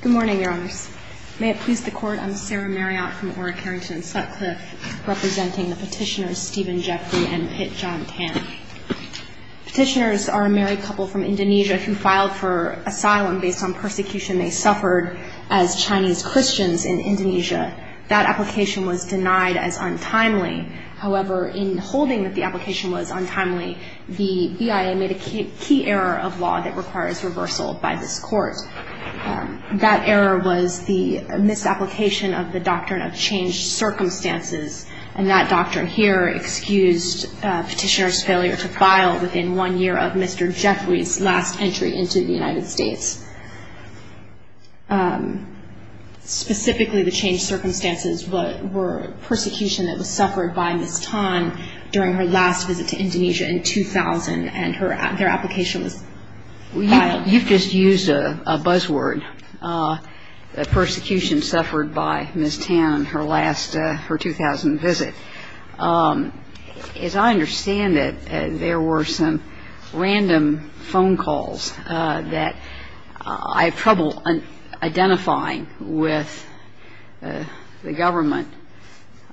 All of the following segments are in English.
Good morning, Your Honors. May it please the Court, I'm Sarah Marriott from Ora Carrington Sutcliffe, representing the petitioners Stephen Jeffry and Pit John Tan. Petitioners are a married couple from Indonesia who filed for asylum based on persecution they suffered as Chinese Christians in Indonesia. That application was denied as untimely. However, in holding that the application was untimely, the BIA made a key error of law that requires reversal by this Court. That error was the misapplication of the Doctrine of Changed Circumstances. And that doctrine here excused petitioners' failure to file within one year of Mr. Jeffry's last entry into the United States. Specifically, the changed circumstances were persecution that was suffered by Ms. Tan during her last visit to Indonesia in 2000, and their application was filed. You've just used a buzzword, persecution suffered by Ms. Tan, her last, her 2000 visit. As I understand it, there were some random phone calls that I have trouble identifying with the government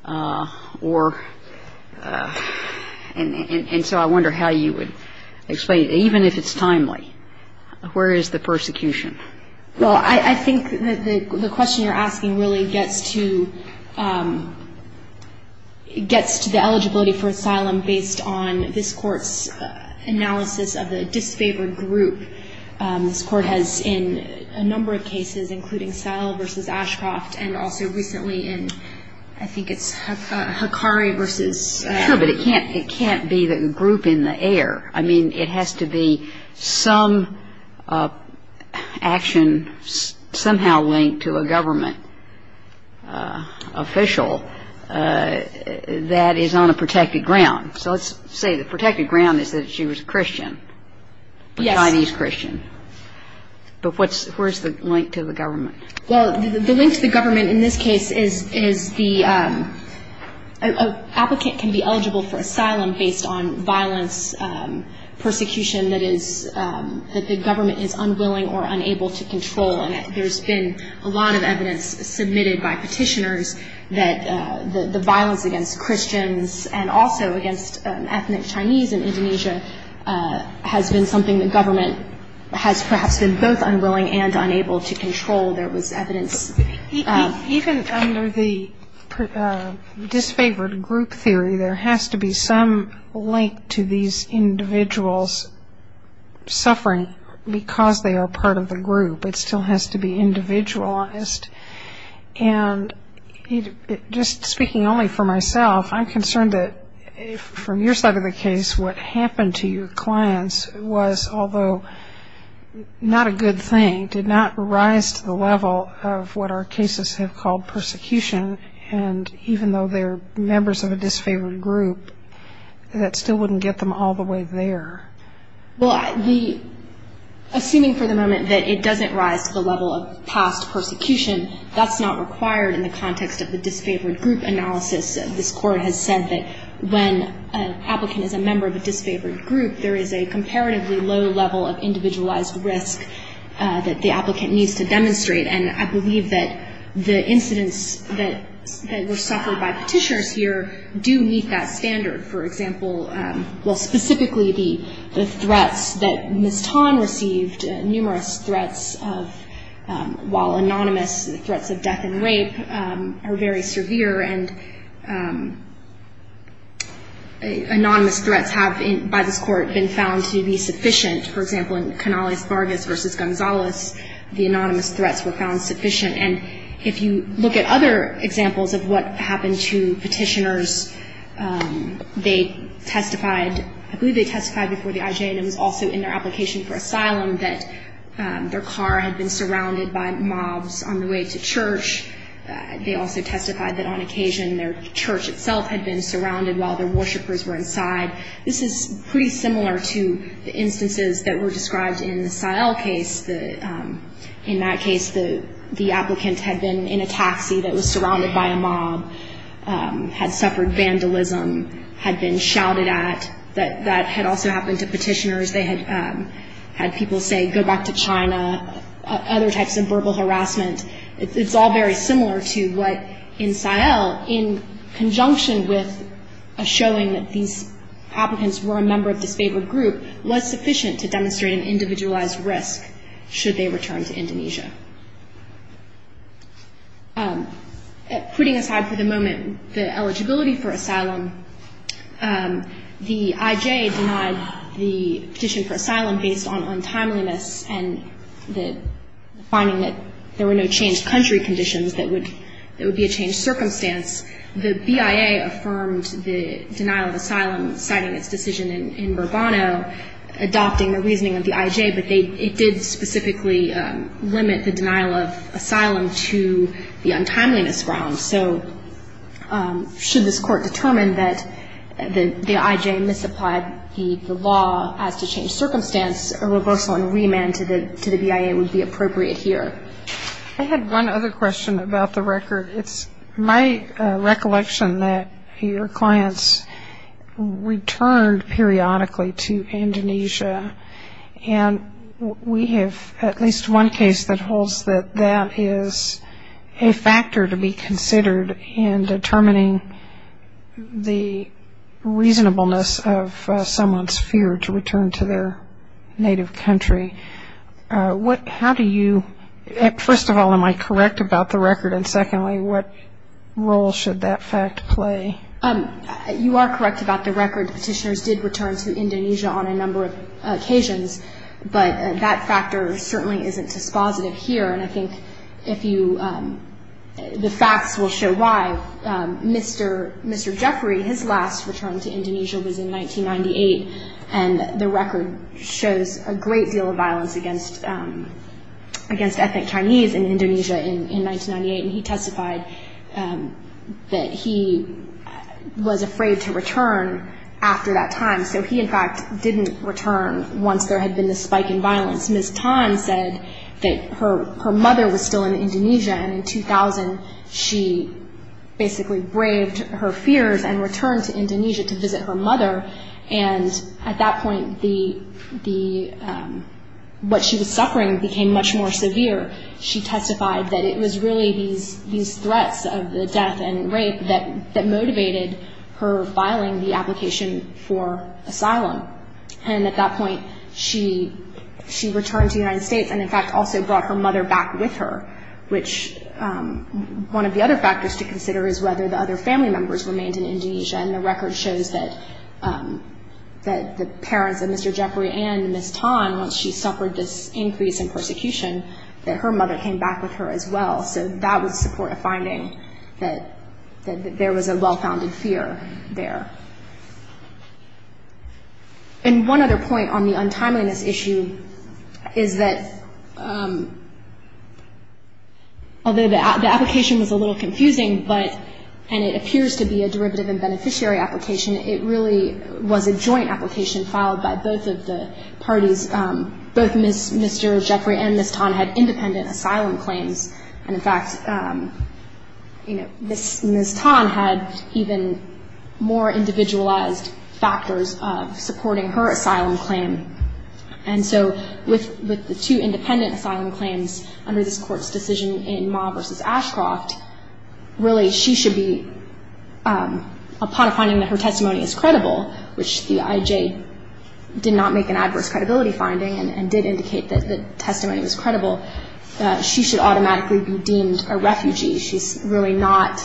or, and so I wonder how you would explain it, even if it's timely. Where is the persecution? Well, I think that the question you're asking really gets to, gets to the eligibility for asylum based on this Court's analysis of the disfavored group. This Court has in a number of cases, including Sell v. Ashcroft and also recently in, I think it's Hakari v. Sure, but it can't, it can't be the group in the air. I mean, it has to be some action somehow linked to a government official that is on a protected ground. So let's say the protected ground is that she was a Christian. Yes. Chinese Christian. Well, the link to the government in this case is, is the applicant can be eligible for asylum based on violence, persecution that is, that the government is unwilling or unable to control. And there's been a lot of evidence submitted by petitioners that the violence against Christians and also against ethnic Chinese in Indonesia has been something the government has perhaps been both unwilling and unable to control. There was evidence. Even under the disfavored group theory, there has to be some link to these individuals suffering because they are part of the group. It still has to be individualized. And just speaking only for myself, I'm concerned that from your side of the case, what happened to your clients was, although not a good thing, did not rise to the level of what our cases have called persecution. And even though they're members of a disfavored group, that still wouldn't get them all the way there. Well, assuming for the moment that it doesn't rise to the level of past persecution, that's not required in the context of the disfavored group analysis. This Court has said that when an applicant is a member of a disfavored group, there is a comparatively low level of individualized risk that the applicant needs to demonstrate. And I believe that the incidents that were suffered by petitioners here do meet that standard. For example, well, specifically the threats that Ms. Tan received, numerous threats of, while anonymous, threats of death and rape, are very severe. And anonymous threats have, by this Court, been found to be sufficient. For example, in Canales-Vargas v. Gonzalez, the anonymous threats were found sufficient. And if you look at other examples of what happened to petitioners, they testified, I believe they testified before the IJ and it was also in their application for asylum, that their car had been surrounded by mobs on the way to church. They also testified that on occasion their church itself had been surrounded while their worshipers were inside. This is pretty similar to the instances that were described in the Sael case. In that case, the applicant had been in a taxi that was surrounded by a mob, had suffered vandalism, had been shouted at. That had also happened to petitioners. They had had people say, go back to China, other types of verbal harassment. It's all very similar to what in Sael, in conjunction with a showing that these applicants were a member of a disfavored group, was sufficient to demonstrate an individualized risk should they return to Indonesia. Putting aside for the moment the eligibility for asylum, the IJ denied the petition for asylum based on untimeliness and the finding that there were no changed country conditions that would be a changed circumstance. The BIA affirmed the denial of asylum, citing its decision in Bourbono, adopting the reasoning of the IJ, but it did specifically limit the denial of asylum to the untimeliness realm. So should this court determine that the IJ misapplied the law as to change circumstance, a reversal and remand to the BIA would be appropriate here. I had one other question about the record. It's my recollection that your clients returned periodically to Indonesia, and we have at least one case that holds that that is a factor to be considered in determining the reasonableness of someone's fear to return to their native country. How do you, first of all, am I correct about the record, and secondly, what role should that fact play? You are correct about the record. Petitioners did return to Indonesia on a number of occasions, but that factor certainly isn't dispositive here, and I think if you, the facts will show why. Mr. Jeffrey, his last return to Indonesia was in 1998, and the record shows a great deal of violence against ethnic Chinese in Indonesia in 1998, and he testified that he was afraid to return after that time. So he, in fact, didn't return once there had been this spike in violence. Ms. Tan said that her mother was still in Indonesia, and in 2000 she basically braved her fears and returned to Indonesia to visit her mother, and at that point what she was suffering became much more severe. She testified that it was really these threats of the death and rape that motivated her filing the application for asylum, and at that point she returned to the United States and, in fact, also brought her mother back with her, which one of the other factors to consider is whether the other family members remained in Indonesia, and the record shows that the parents of Mr. Jeffrey and Ms. Tan, once she suffered this increase in persecution, that her mother came back with her as well, so that was a support of finding that there was a well-founded fear there. And one other point on the untimeliness issue is that, although the application was a little confusing, and it appears to be a derivative and beneficiary application, it really was a joint application filed by both of the parties. Both Mr. Jeffrey and Ms. Tan had independent asylum claims, and, in fact, Ms. Tan had even more individualized factors of supporting her asylum claim, and so with the two independent asylum claims under this Court's decision in Ma versus Ashcroft, really she should be, upon finding that her testimony is credible, which the IJ did not make an adverse credibility finding and did indicate that the testimony was credible, that she should automatically be deemed a refugee. She's really not,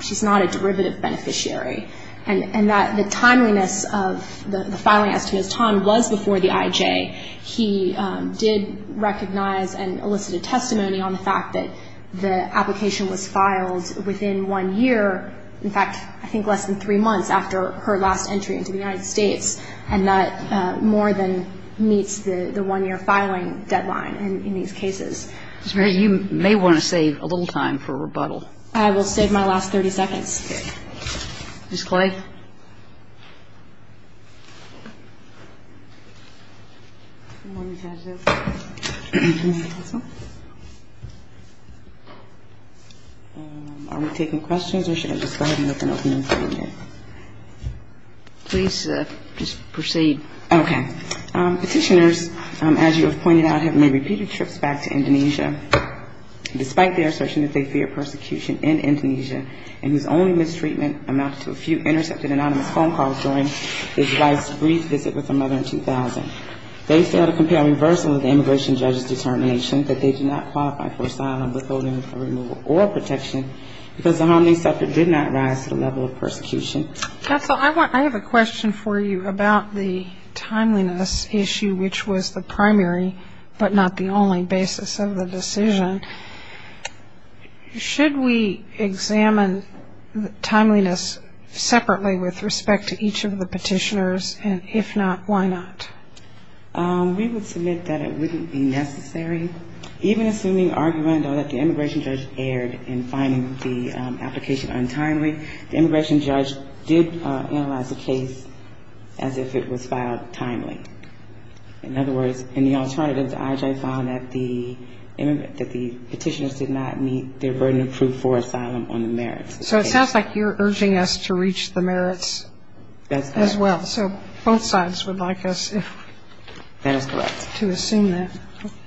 she's not a derivative beneficiary, and that the timeliness of the filing as to Ms. Tan was before the IJ. He did recognize and elicit a testimony on the fact that the application was filed within one year, in fact, I think less than three months after her last entry into the United States, and that more than meets the one-year filing deadline in these cases. Ms. Mary, you may want to save a little time for rebuttal. I will save my last 30 seconds. Okay. Ms. Clay? Good morning, Judge. Good morning, counsel. Are we taking questions, or should I just go ahead and open up the meeting? Please just proceed. Okay. Petitioners, as you have pointed out, have made repeated trips back to Indonesia, despite their assertion that they fear persecution in Indonesia, and whose only mistreatment amounted to a few intercepted anonymous phone calls during his wife's brief visit with her mother in 2000. They failed to compare reversal of the immigration judge's determination that they do not qualify for asylum, withholding for removal or protection, because the harm they suffered did not rise to the level of persecution. Counsel, I have a question for you about the timeliness issue, which was the primary but not the only basis of the decision. Should we examine timeliness separately with respect to each of the petitioners, and if not, why not? We would submit that it wouldn't be necessary. Even assuming argument or that the immigration judge erred in finding the application untimely, the immigration judge did analyze the case as if it was filed timely. In other words, in the alternative, the IHI found that the petitioners did not meet their burden of proof for asylum on the merits. So it sounds like you're urging us to reach the merits as well. That's correct. So both sides would like us to assume that. That is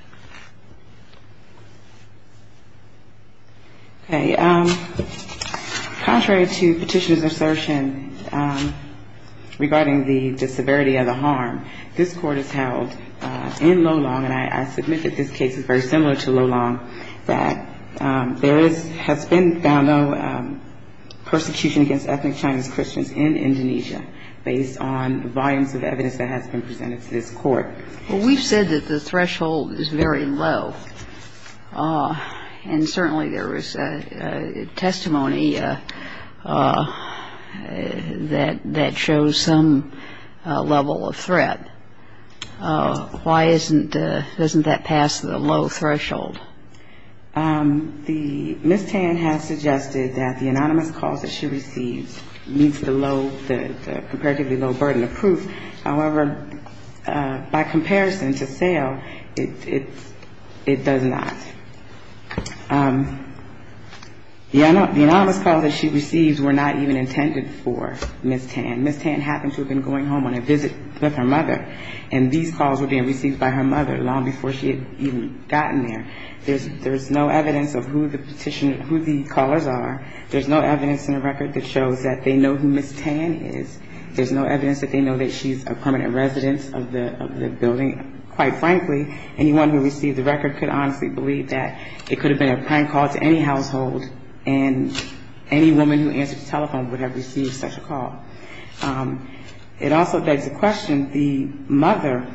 correct. Okay. Contrary to Petitioner's assertion regarding the severity of the harm, this Court has held in Lolong, and I submit that this case is very similar to Lolong, that there has been found no persecution against ethnic Chinese Christians in Indonesia based on the volumes of evidence that has been presented to this Court. Well, we've said that the threshold is very low. And certainly there was testimony that shows some level of threat. Why isn't that past the low threshold? The Ms. Tan has suggested that the anonymous calls that she receives meets the low, the comparatively low burden of proof. However, by comparison to sale, it does not. The anonymous calls that she receives were not even intended for Ms. Tan. Ms. Tan happened to have been going home on a visit with her mother, and these calls were being received by her mother long before she had even gotten there. There's no evidence of who the petitioner, who the callers are. There's no evidence in the record that shows that they know who Ms. Tan is. There's no evidence that they know that she's a permanent resident of the building. Quite frankly, anyone who received the record could honestly believe that it could have been a prank call to any household, and any woman who answered the telephone would have received such a call. It also begs the question, the mother,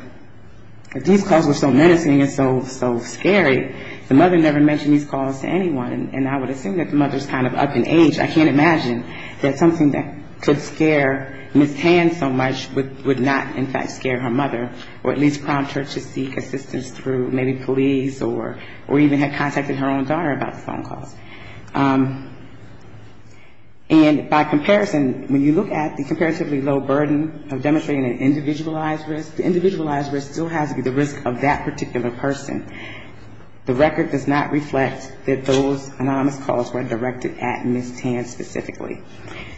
if these calls were so menacing and so scary, the mother never mentioned these calls to anyone, and I would assume that the mother's kind of up in age. I can't imagine that something that could scare Ms. Tan so much would not, in fact, scare her mother, or at least prompt her to seek assistance through maybe police or even had contacted her own daughter about the phone calls. And by comparison, when you look at the comparatively low burden of demonstrating an individualized risk, the individualized risk still has to be the risk of that particular person. The record does not reflect that those anonymous calls were directed at Ms. Tan specifically.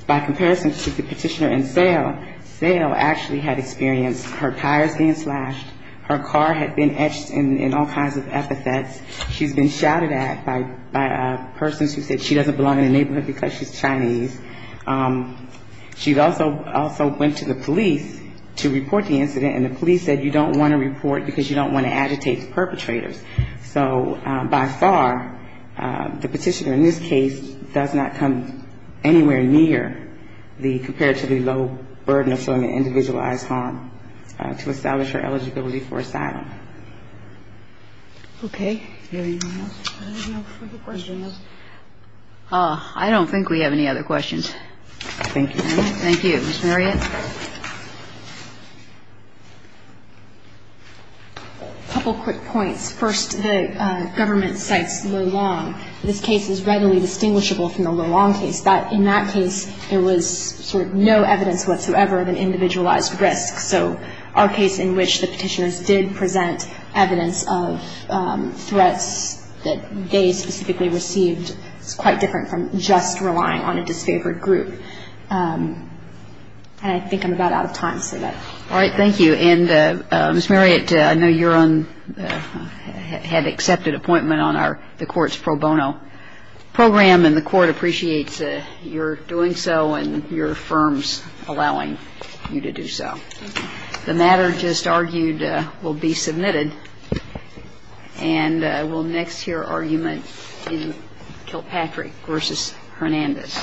By comparison to the petitioner in Sale, Sale actually had experienced her tires being slashed, her car had been etched in all kinds of epithets, she's been shouted at by persons who said she doesn't belong in the neighborhood because she's Chinese. She also went to the police to report the incident, and the police said you don't want to report because you don't want to agitate the perpetrators. So by far, the petitioner in this case does not come anywhere near the comparatively low burden of showing an individualized harm to establish her eligibility for asylum. Okay. Anyone else? I don't think we have any other questions. Thank you. Thank you. A couple quick points. First, the government cites Lo Long. This case is readily distinguishable from the Lo Long case. In that case, there was sort of no evidence whatsoever of an individualized risk. So our case in which the petitioners did present evidence of threats that they specifically received is quite different from just relying on a disfavored group. And I think I'm about out of time. All right. Thank you. And Ms. Marriott, I know you had an accepted appointment on the court's pro bono program, and the court appreciates your doing so and your firm's allowing you to do so. Thank you. The matter just argued will be submitted, and we'll next hear argument in Kilpatrick v. Hernandez. Thank you.